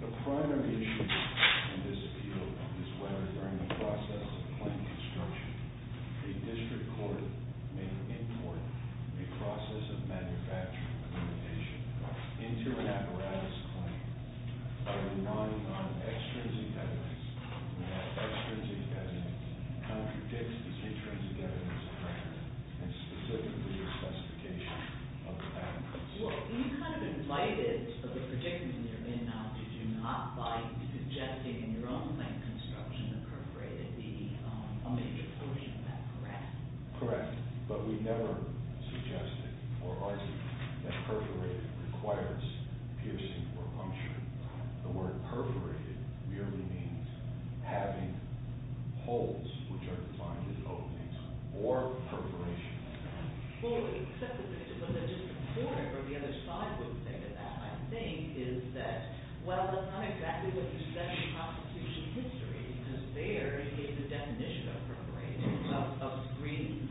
The primary issue in this field is whether during the process of claim construction a district court may import a process of manufacturing implementation into an apparatus claim. There is no extrinsic evidence that contradicts this extrinsic evidence and specifically the specification of the apparatus. Well, you kind of invited for the predicament you're in now, did you not, by suggesting in your own claim construction that perforated be a major portion of that, correct? Correct, but we've never suggested or argued that perforated requires piercing or puncture. The word perforated merely means having holes which are defined as openings or perforations. Well, except that the district court or the other side would think of that, I think, is that, well, that's not exactly what you said in the prosecution history, because there is a definition of perforated, of screening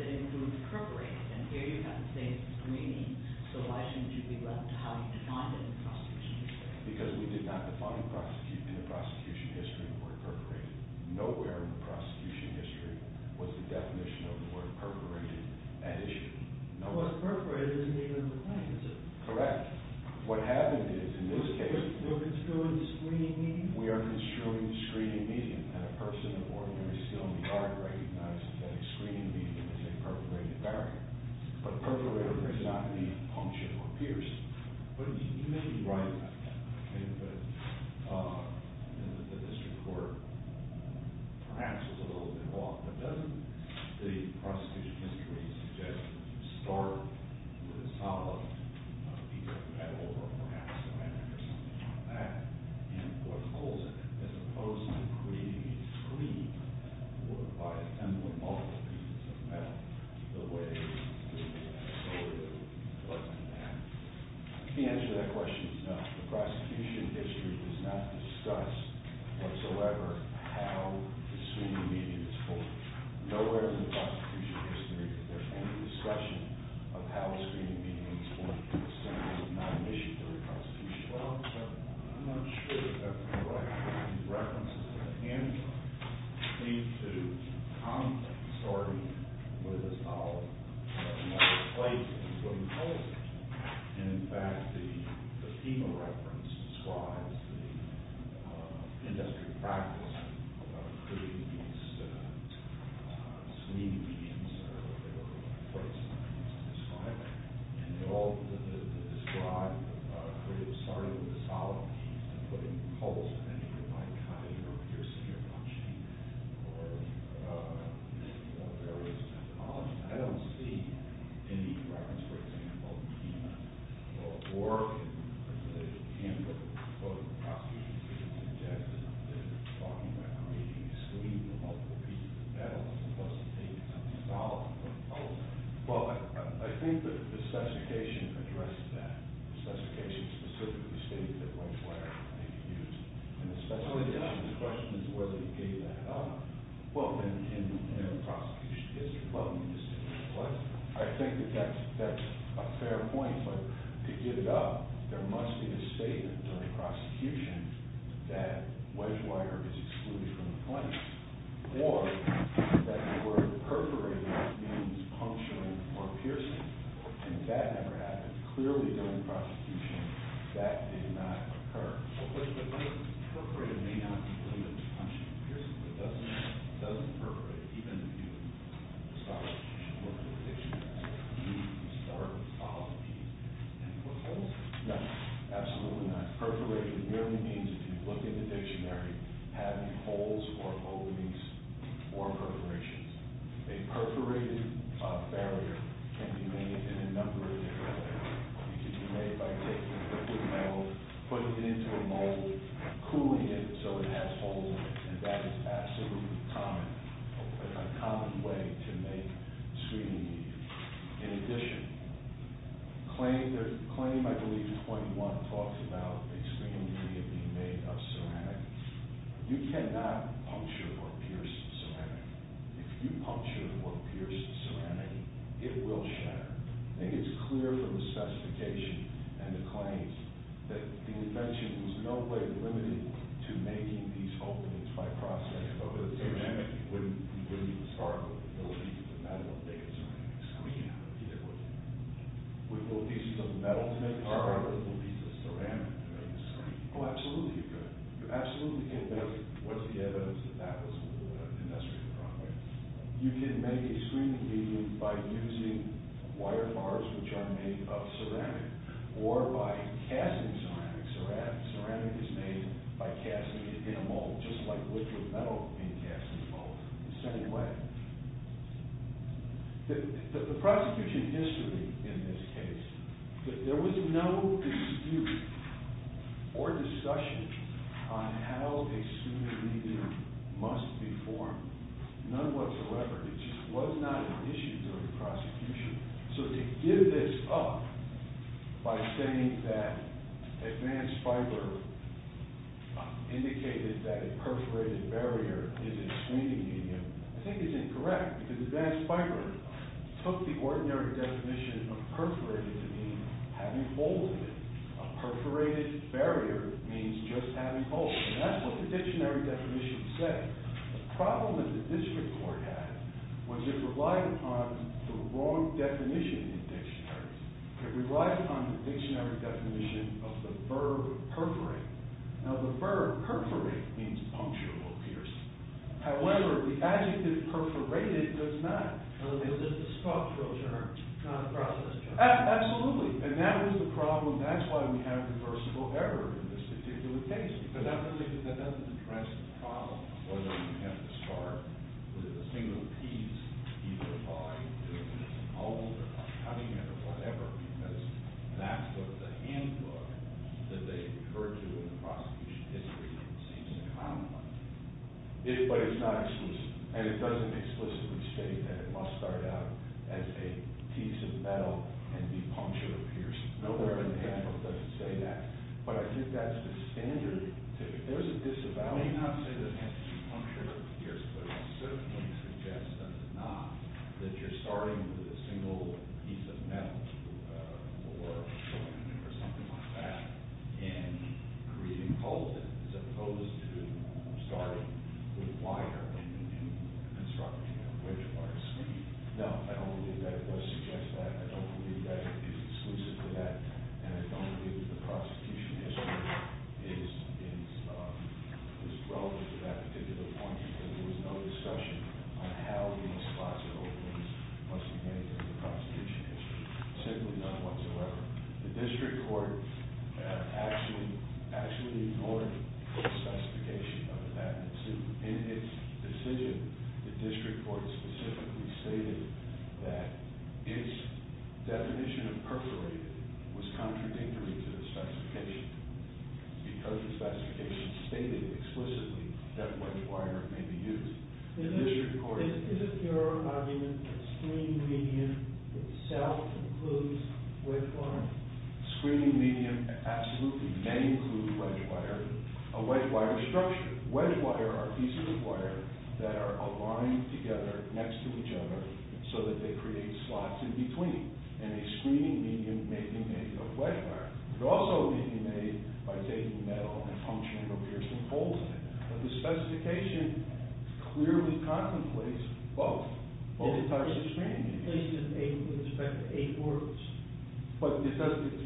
that includes perforated, and here you have the same screening, so why shouldn't you be left to how you defined it in the prosecution history? Because we did not define in the prosecution history the word perforated. Nowhere in the prosecution history was the definition of the word perforated an issue. Well, perforated isn't even in the claim, is it? Correct. What happened is, in this case... We're construing screening medium? We are construing screening medium, and a person of ordinary skill in the art recognizes that a screening medium is a perforated barrier, but perforated does not mean puncture or pierce. But you may be right about that, but the district court perhaps was a little bit off, but doesn't the prosecution history suggest that you start with a solid piece of metal, or perhaps a hammer or something like that, and put holes in it, as opposed to creating a screen by assembling multiple pieces of metal. The answer to that question is no. The prosecution history does not discuss whatsoever how the screening medium is formed. Nowhere in the prosecution history is there any discussion of how the screening medium is formed in the sense of not an issue to the prosecution. Well, I'm not sure if that's correct. The references at hand seem to come, sort of, with a solid metal plate, including holes in it. And in fact, the FEMA reference describes the industrial practice of creating these screening mediums, or perforated screening mediums, as described. And they all describe, sort of, starting with a solid piece and putting holes in it by cutting or piercing or punching, or various methodologies. I don't see any reference, for example, to FEMA, or the handbook of the prosecution history suggests that they're talking about creating a screen with multiple pieces of metal, as opposed to taking something solid and putting holes in it. Well, I think that the specification addresses that. The specification specifically states that wedge wire may be used. And the question is whether they gave that up. Well, then, in the prosecution history, well, I think that that's a fair point. But to give it up, there must be a statement during prosecution that wedge wire is excluded from the claim. Or that the word perforated means puncturing or piercing. And that never happened. Clearly, during prosecution, that did not occur. Well, but the word perforated may not include a puncture or piercing. It doesn't perforate, even if you start with a solid piece and put holes in it. In addition, claim, I believe, point one talks about a screen being made of ceramic. You cannot puncture or pierce ceramic. If you puncture or pierce ceramic, it will shatter. I think it's clear from the specification and the claims that the invention was in no way limited to making these openings by processing. But with ceramic, you wouldn't be able to start with a little piece of metal and make it into a screen. With little pieces of metal to make a part of it, with little pieces of ceramic to make a screen. Oh, absolutely. You're absolutely correct. What's the evidence that that was an industrial product? You can make a screening medium by using wire bars, which are made of ceramic, or by casting ceramic. Ceramic is made by casting it in a mold, just like liquid metal being cast in a mold. The prosecution history in this case, there was no dispute or discussion on how a screening medium must be formed. None whatsoever. It just was not an issue during prosecution. So to give this up by saying that advanced fiber indicated that a perforated barrier is a screening medium, I think is incorrect. Because advanced fiber took the ordinary definition of perforated to mean having holes in it. A perforated barrier means just having holes. And that's what the dictionary definition said. The problem that the district court had was it relied upon the wrong definition in dictionaries. It relied upon the dictionary definition of the verb perforate. Now the verb perforate means puncture or pierce. However, the adjective perforated does not. So is it a structural term, not a process term? Absolutely. And that is the problem. That's why we have reversible error in this particular case. But that doesn't address the problem. Whether you have to start with a single piece, either by doing it in a mold or cutting it or whatever, because that's what the handbook that they refer to in the prosecution history seems to comment on. But it's not explicit. And it doesn't explicitly say that it must start out as a piece of metal and be punctured or pierced. Nowhere in the handbook does it say that. But I think that's the standard. There's a disavowing, I would say, that it has to be punctured or pierced, but it certainly suggests that it's not, that you're starting with a single piece of metal or something like that and creating holes in it as opposed to starting with wire and constructing a bridge or a stream. No, I don't believe that it does suggest that. I don't believe that it is exclusive to that. And I don't believe that the prosecution history is relevant to that particular point. There was no discussion on how these spots or openings must be made in the prosecution history. Simply none whatsoever. The district court actually ignored the specification of that in its decision. The district court specifically stated that its definition of perforated was contradictory to the specification because the specification stated explicitly that wedge wire may be used. Is it your argument that screening medium itself includes wedge wire? Screening medium absolutely may include wedge wire. A wedge wire structure. Wedge wire are pieces of wire that are aligned together next to each other so that they create slots in between. And a screening medium may be made of wedge wire. It could also be made by taking metal and puncturing or piercing holes in it. But the specification clearly contemplates both. Both types of screening mediums. It places an eight with respect to eight words. But it's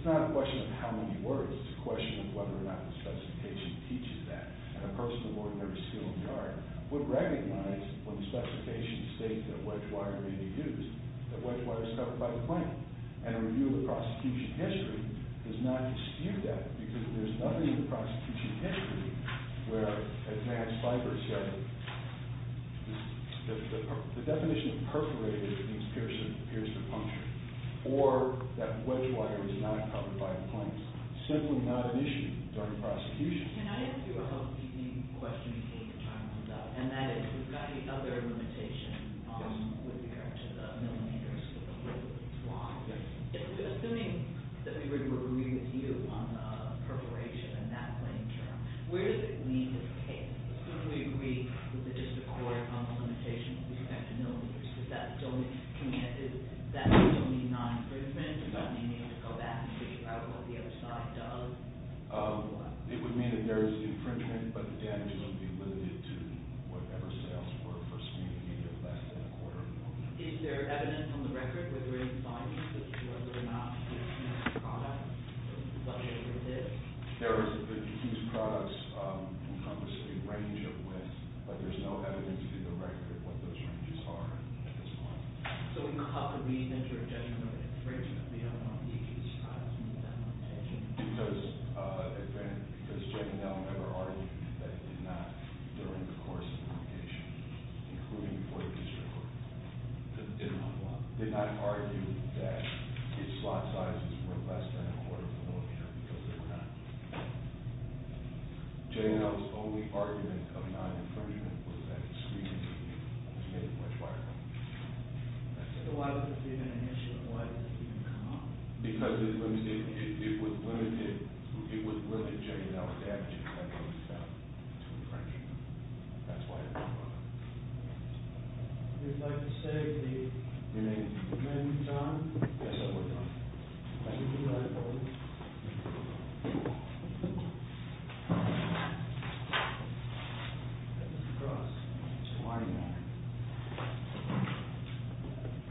not a question of how many words. It's a question of whether or not the specification teaches that. And a person of ordinary skill in the art would recognize when the specification states that wedge wire may be used that wedge wire is covered by the plaintiff. And a review of the prosecution history does not dispute that because there's nothing in the prosecution history where, as Matt Sliber said, the definition of perforated means piercing or puncturing. Or that wedge wire is not covered by the plaintiff. It's simply not an issue during prosecution. Can I ask you a question you hate to talk about? And that is, we've got the other limitation with regard to the millimeters of the wedge wire. Assuming that we were agreeing with you on the perforation and that plain term, where does it leave the case? Do we agree with the district court on the limitation with respect to millimeters? Does that still mean non-infringement? Does that mean you have to go back and figure out what the other side does? It would mean that there is infringement, but the damage would be limited to whatever sales were for a speedy range of less than a quarter of an inch. Is there evidence on the record whether or not the products encompass a range of widths? Is there evidence on the record of what those ranges are at this point? So how could we measure a judgment of infringement beyond the size of the damage? Because JNL never argued that it did not during the course of litigation, including before the district court. Did not what? Did not argue that its slot sizes were less than a quarter of a millimeter because they were not. JNL's only argument of non-infringement was that its speedy range was much wider. So why was this even an issue, and why did this even come up? Because it was limited JNL's damage to infringement. That's why it was brought up. Would you like to say the amendment is done? Yes, sir, we're done. Thank you.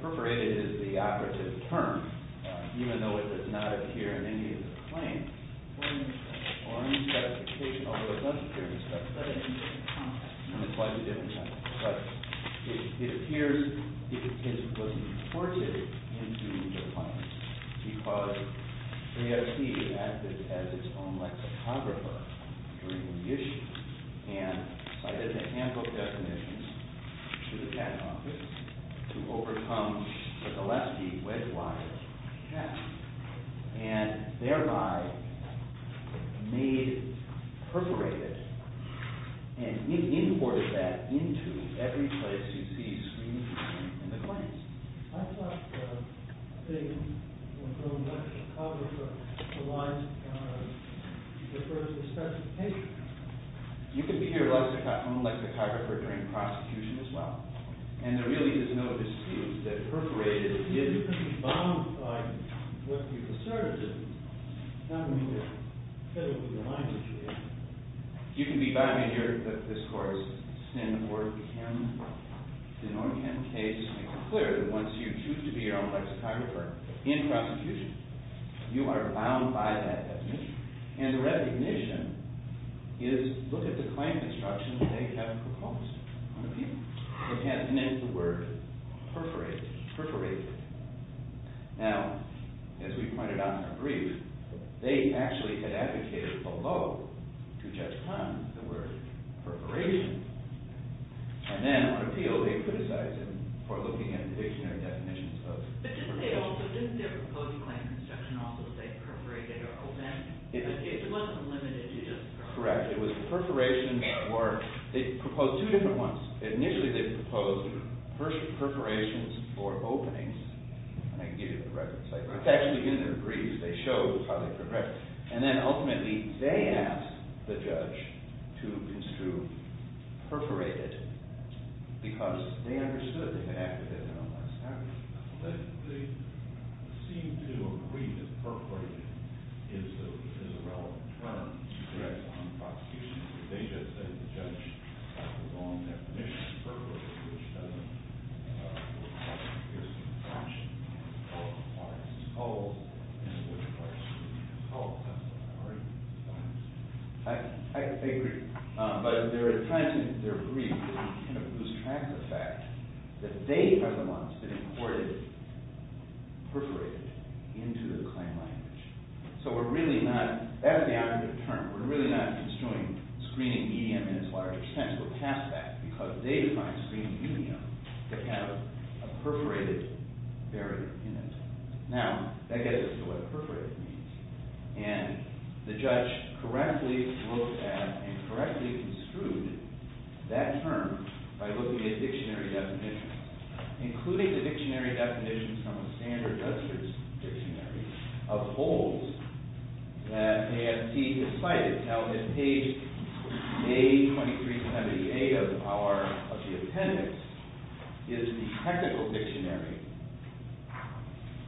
Appropriated is the operative term, even though it does not appear in any of the claims. Or in the specification, although it does appear in the specification, it's quite a different term. But it appears it was imported into the claims because AFC acted as its own lexicographer during the issue and cited the handbook definitions to the patent office to overcome the Gillespie wedge-wise check. And thereby made perforated and imported that into every place you see screened in the claims. You can be your own lexicographer during prosecution as well. And there really is no excuse that perforated is bound by what you've asserted, not what you've said in your mind that you did. You can be by me here, but this court is in order to make it clear that once you choose to be your own lexicographer in prosecution, you are bound by that definition. And the recognition is, look at the claim construction they have proposed on appeal. It has the name of the word perforated. Now, as we pointed out in our brief, they actually had advocated below to Judge Kahn the word perforation. And then on appeal they criticized him for looking at the dictionary definitions of perforation. But didn't they also, didn't their proposed claim construction also say perforated or open? It wasn't limited to just perforation. It was perforation or – they proposed two different ones. Initially they proposed perforations or openings. I can give you the reference. It's actually in their briefs. They show how they progressed. And then ultimately they asked the judge to construe perforated because they understood they could act with it in a more established way. But they seem to agree that perforated is a relevant term. Correct. On prosecution. They just said the judge had the wrong definition of perforated, which doesn't appear to be a function of the court of law. It's always a question of the court of law. I agree. But they're trying to, in their brief, kind of lose track of the fact that they are the ones that imported perforated into the claim language. So we're really not – that's the operative term. We're really not construing screening medium in its large extent. We're past that because they defined screening medium to have a perforated barrier in it. Now, that gets us to what perforated means. And the judge correctly looked at and correctly construed that term by looking at dictionary definitions, including the dictionary definitions from the Standard Justice Dictionary of Holds that AST has cited. Now, in page A2378 of the power of the appendix is the technical dictionary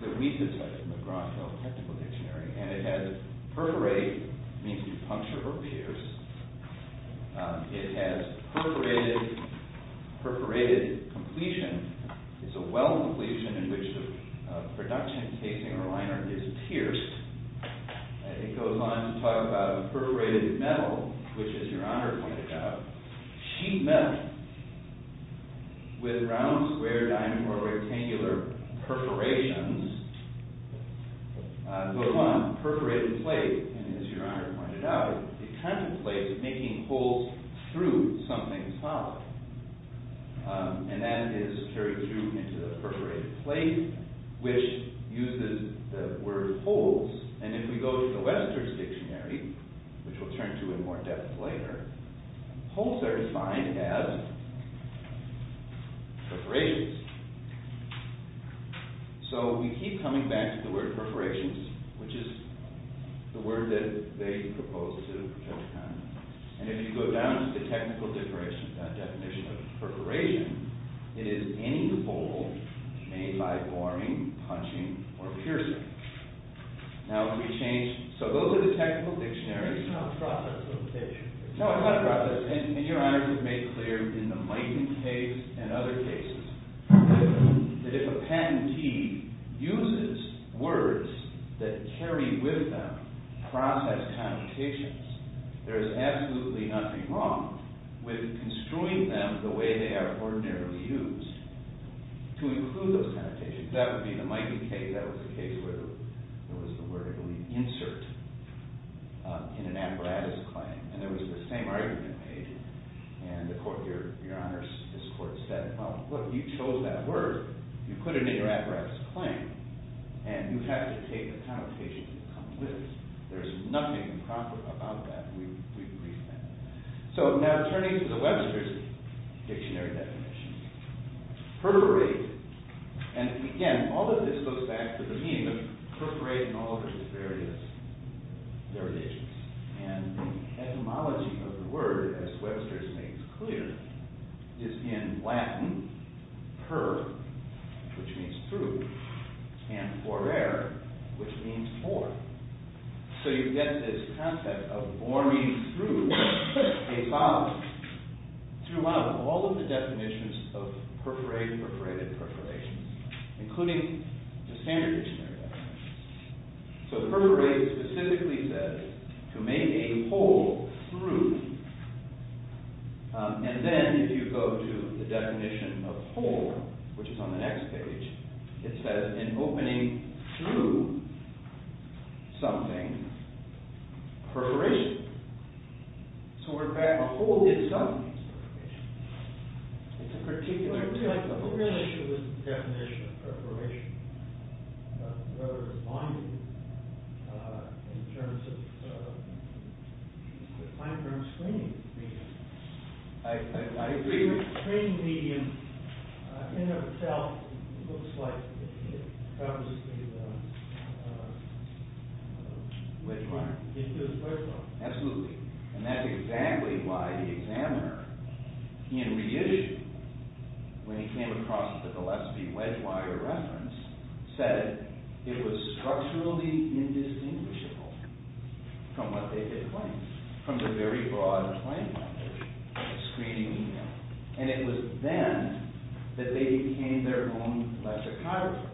that we can cite from the Gronkow Technical Dictionary. And it has perforated, meaning puncture or pierce. It has perforated completion. It's a well completion in which the production casing or liner is pierced. It goes on to talk about a perforated metal, which, as Your Honor pointed out, sheet metal with round, square, diamond, or rectangular perforations. It goes on, perforated plate. And as Your Honor pointed out, it contemplates making holes through something solid. And that is carried through into the perforated plate, which uses the word holes. And if we go to the Western Dictionary, which we'll turn to in more depth later, holes are defined as perforations. So we keep coming back to the word perforations, which is the word that they proposed to Judge Kahneman. And if you go down to the technical definition of perforation, it is any hole made by boring, punching, or piercing. So those are the technical dictionaries. No, it's not a process. And Your Honor has made clear in the Mighty Caves and other cases that if a patentee uses words that carry with them process connotations, there is absolutely nothing wrong with construing them the way they are ordinarily used to include those connotations. That would be the Mighty Caves. That was the case where there was the word insert in an apparatus claim. And there was the same argument made. And Your Honor's court said, well, look, you chose that word. You put it in your apparatus claim. And you have to take the connotations that come with it. There's nothing improper about that. We've reaffirmed that. So now turning to the Webster's Dictionary definitions. Perforate. And again, all of this goes back to the meaning of perforate and all of its various derivations. And the etymology of the word, as Webster has made clear, is in Latin, per, which means through, and forer, which means for. So you get this concept of forming through a vowel. Through a vowel. All of the definitions of perforate, perforated, perforations, including the standard dictionary definitions. So perforate specifically says to make a hole through. And then if you go to the definition of hole, which is on the next page, it says in opening through something, perforation. So, in fact, a hole is done through perforation. It's a particular type of hole. I feel like the whole issue is the definition of perforation. Whether it's binding in terms of the time-frame screening medium. I agree with you. The screening medium in and of itself looks like it covers the width line. Absolutely. And that's exactly why the examiner, in reissue, when he came across the Gillespie wedge-wire reference, said it was structurally indistinguishable from what they had claimed, from the very broad claim of the screening medium. And it was then that they became their own electrochirographer.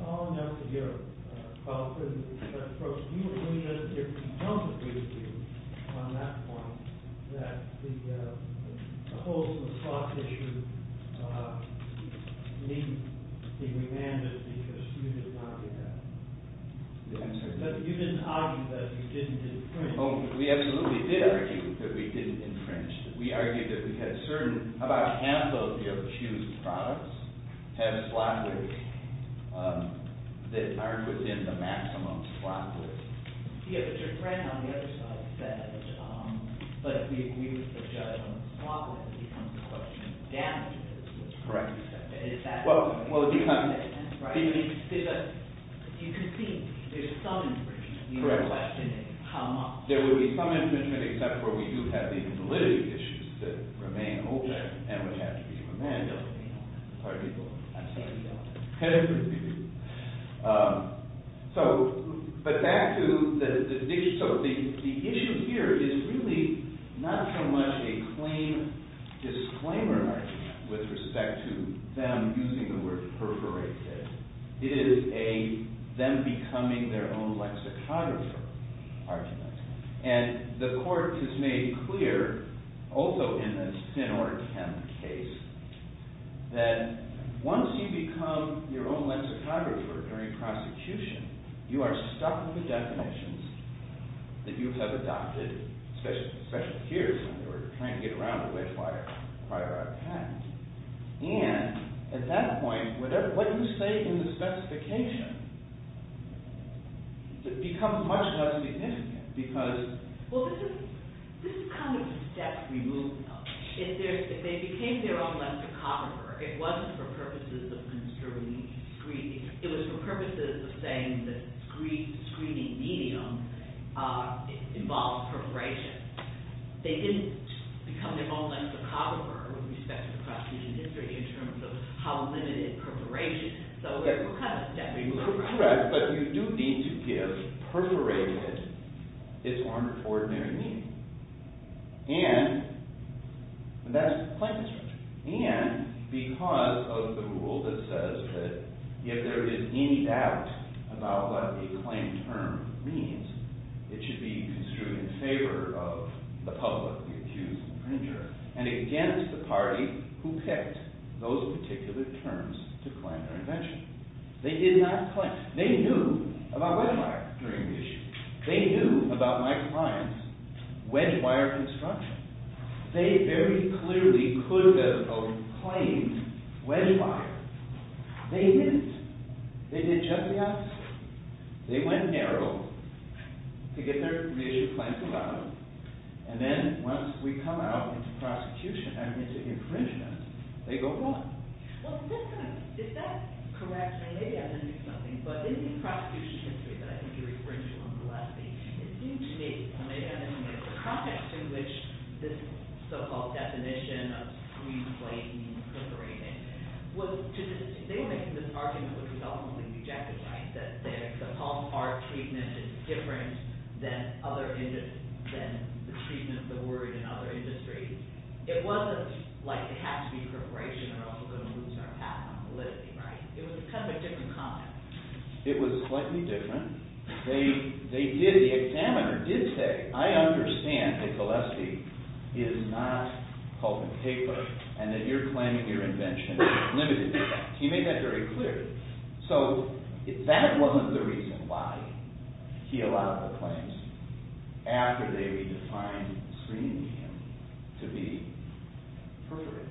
Following up with your qualitative approach, do you believe that there can come to be a view on that point that the holes in the soft tissue need to be remanded because you did not do that? You didn't argue that you didn't infringe. We absolutely did argue that we didn't infringe. We argued that we had certain, about half of your shoes' products have slot widths that aren't within the maximum slot width. Yes, but your friend on the other side said that if we use the judgment of slot widths, it becomes a question of damages. Correct. You can see there's some infringement. Correct. You are questioning how much. There would be some infringement, except for we do have these validity issues that remain open and would have to be remanded. Pardon me. I'm sorry. Penalty would be due. The issue here is really not so much a claim disclaimer with respect to them using the word perforated. It is a them becoming their own lexicographer argument. And the court has made clear, also in the Sin Order 10 case, that once you become your own lexicographer during prosecution, you are stuck with the definitions that you have adopted, especially here, when they were trying to get around the way quite a lot of times. And at that point, what you say in the specification becomes much less significant. Well, this is kind of a step we move now. If they became their own lexicographer, it wasn't for purposes of construing screening. It was for purposes of saying that screening medium involved perforation. They didn't become their own lexicographer with respect to the prosecution history in terms of how limited perforation. Correct. But you do need to give perforated its own ordinary meaning. And that's the claim disclosure. And because of the rule that says that if there is any doubt about what a claim term means, it should be construed in favor of the public, the accused, the infringer, and against the party who picked those particular terms to claim their invention. They did not claim. They knew about wedge wire during the issue. They knew about my client's wedge wire construction. They very clearly could have claimed wedge wire. They didn't. They did just the opposite. They went narrow to get their initial claims about them. And then once we come out into prosecution, they go broad. Well, at this time, if that's correct, maybe I missed something. But in the prosecution history that I think you referred to on the last page, it seemed to me, or maybe I didn't make it, the context in which this so-called definition of screenplate means perforated was to this day making this argument which was ultimately rejected, right? That the palm heart treatment is different than the treatment of the word in other industries. It wasn't like it has to be perforation or else we're going to lose our path on validity, right? It was kind of a different context. It was slightly different. The examiner did say, I understand that Gillespie is not holding paper and that you're claiming your invention is limited. He made that very clear. So that wasn't the reason why he allowed the claims. After they redefined screening him to be perforated.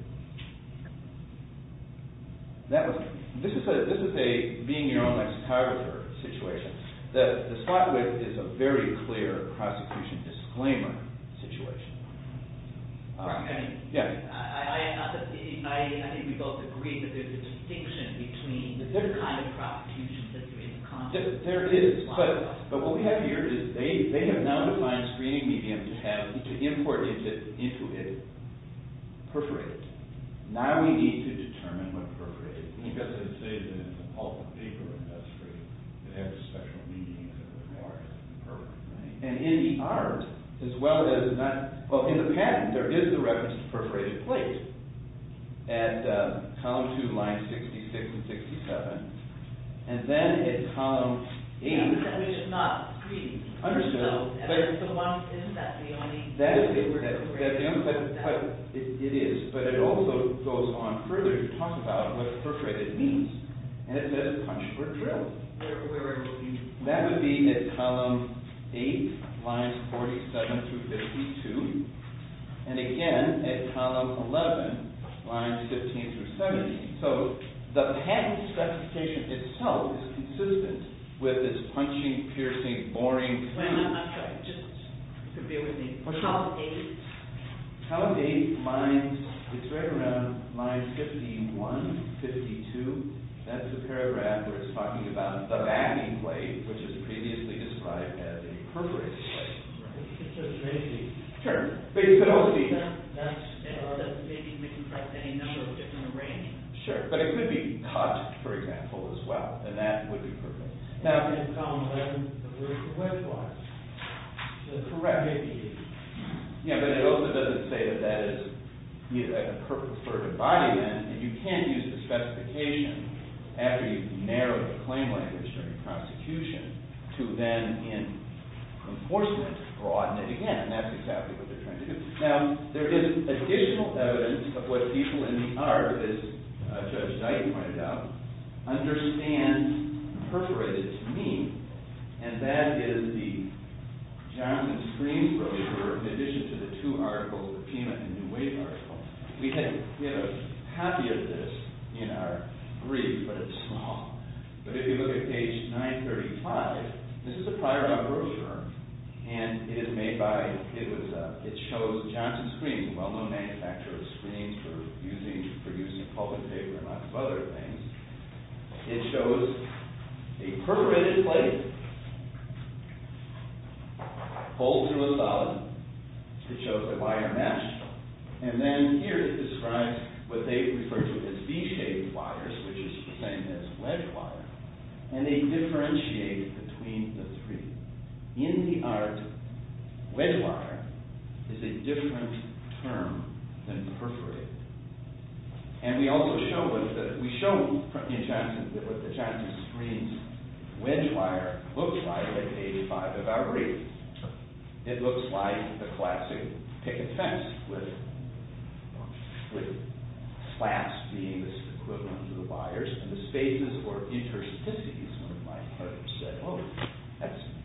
This is a being your own ex-photographer situation. The spot with is a very clear prosecution disclaimer situation. I mean, I think we both agree that there's a distinction between the kind of prosecution that you're in the context of. But what we have here is they have now defined screening medium to import into it perforated. Now we need to determine what perforated is. And in the art, as well as in the patent, there is the reference to perforated plate at column two, line 66 and 67. And then at column eight. Perforated is not screened. Understood. That's the only type of cut it is. But it also goes on further to talk about what perforated means. And it says punched or drilled. That would be at column eight, lines 47 through 52. And again, at column 11, lines 15 through 70. So the patent specification itself is consistent with its punching, piercing, boring claim. Column eight, it's right around line 51, 52. That's the paragraph where it's talking about the batting plate, which is previously described as a perforated plate. It's a crazy term. But you could also use it. That's in order to maybe reconstruct any number of different arrangements. Sure, but it could be punched, for example, as well. And that would be perforated. In column 11, the word perforated was. Correct. Yeah, but it also doesn't say that that is a perforated body then. And you can use the specification after you've narrowed the claim language during the prosecution to then, in enforcement, broaden it again. And that's exactly what they're trying to do. Now, there is additional evidence of what people in the art, as Judge Dyke pointed out, understand perforated to mean. And that is the Johnson Screams brochure, in addition to the two articles, the Pima and the New Wave articles. We have a copy of this in our brief, but it's small. But if you look at page 935, this is a prior number brochure. And it is made by, it shows Johnson Screams, a well-known manufacturer of screams for use in pulp and paper and lots of other things. It shows a perforated plate pulled through a solid. It shows the wire mesh. And then here it describes what they refer to as V-shaped wires, which is the same as wedge wire. And they differentiate between the three. In the art, wedge wire is a different term than perforated. And we also show in Johnson that what the Johnson Screams wedge wire looks like at page 5 of our brief. It looks like the classic picket fence with flaps being this equivalent to the wires. And the spaces were interstices, one of my colleagues said.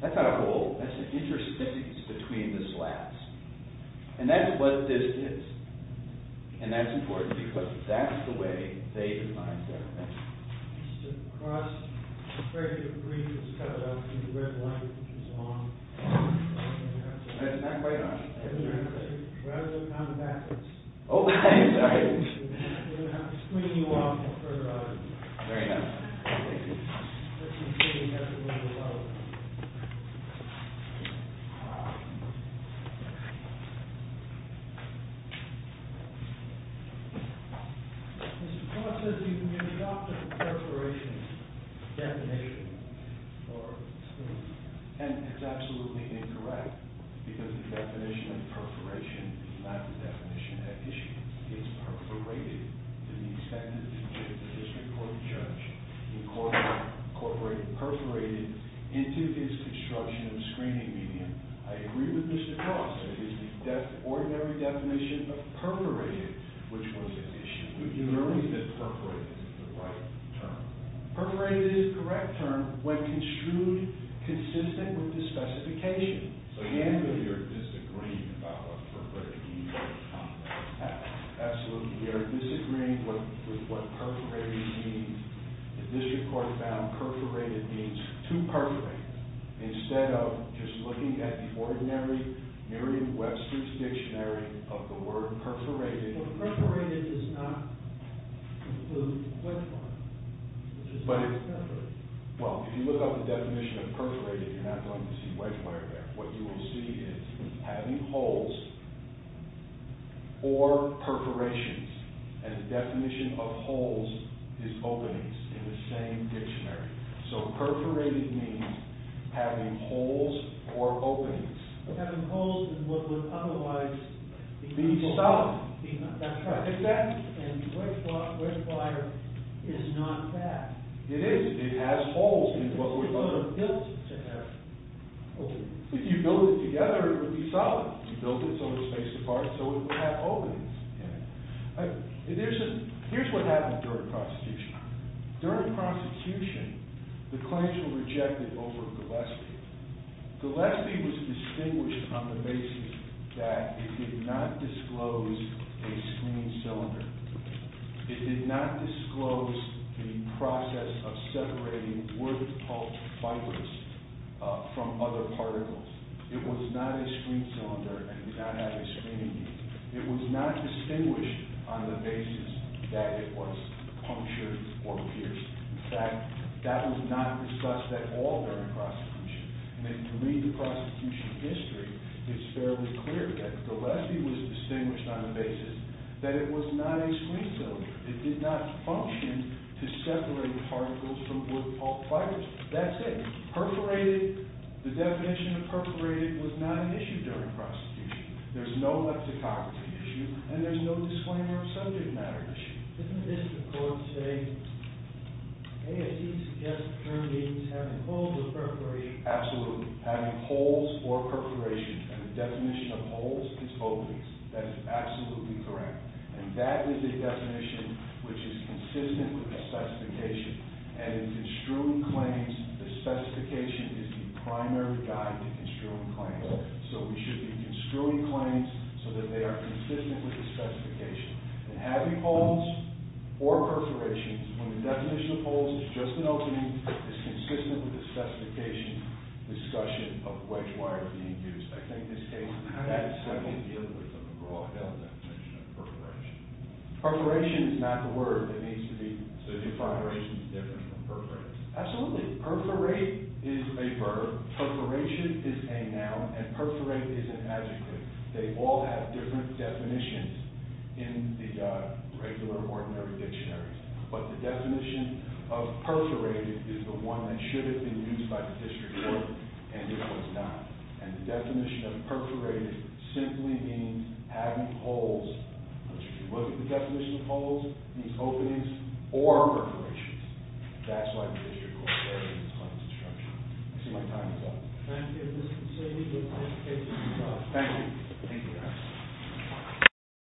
That's not a hole. That's an interstice between the slats. And that's what this is. And that's important because that's the way they designed their fence. Across the frame of the brief is cut out and the red line is on. That's not quite on. Rather, it's on backwards. Oh, thanks. Sorry. We're going to have to screen you off for a minute. There you go. Thank you. Let's see if we can get everyone to vote. Mr. Clark says you can adopt a perforation definition for the screen. And it's absolutely incorrect because the definition of perforation is not the definition at issue. It's perforated to the extent that the district court judge incorporated perforated into his construction of the screening medium. I agree with Mr. Clark. It is the ordinary definition of perforated, which was at issue. You only said perforated is the right term. Perforated is the correct term when construed consistent with the specification. So again, we are disagreeing about what perforated means or what it's not. Absolutely. We are disagreeing with what perforated means. The district court found perforated means too perforated. Instead of just looking at the ordinary Merriam-Webster's dictionary of the word perforated. Well, perforated does not include white wire. It just means perforated. Well, if you look up the definition of perforated, you're not going to see white wire there. What you will see is having holes or perforations. And the definition of holes is openings in the same dictionary. So perforated means having holes or openings. Having holes in what would otherwise be solid. That's right. Exactly. And white wire is not that. It is. It has holes in it. It's not built to have openings. If you build it together, it would be solid. You build it so it's face apart, so it would have openings in it. Here's what happened during prosecution. During prosecution, the claims were rejected over Gillespie. Gillespie was distinguished on the basis that it did not disclose a screening cylinder. It did not disclose the process of separating wood pulp fibers from other particles. It was not a screen cylinder and did not have a screening unit. It was not distinguished on the basis that it was punctured or pierced. In fact, that was not discussed at all during prosecution. And if you read the prosecution history, it's fairly clear that Gillespie was distinguished on the basis that it was not a screen cylinder. It did not function to separate particles from wood pulp fibers. That's it. Perforated, the definition of perforated was not an issue during prosecution. There's no leptococcus issue. And there's no disclaimer of subject matter issue. Isn't this the court saying, hey, as he suggests the term means having holes or perforation? Absolutely. Having holes or perforation. And the definition of holes is openings. That is absolutely correct. And that is a definition which is consistent with the specification. And in construing claims, the specification is the primary guide to construing claims. So we should be construing claims so that they are consistent with the specification. And having holes or perforations, when the definition of holes is just an opening, is consistent with the specification discussion of wedge wires being used. I think this case, that is certainly dealing with a broad definition of perforation. Perforation is not the word that needs to be. So defideration is different from perforate. Absolutely. Perforate is a verb. Perforation is a noun. And perforate is an adjective. They all have different definitions in the regular ordinary dictionaries. But the definition of perforated is the one that should have been used by the district court. And it was not. And the definition of perforated simply means having holes. But if it wasn't the definition of holes, it means openings or perforations. That's why the district court is very inclined to structure. I see my time is up. Thank you, Mr. Saini. Good luck. Thank you. Thank you, guys.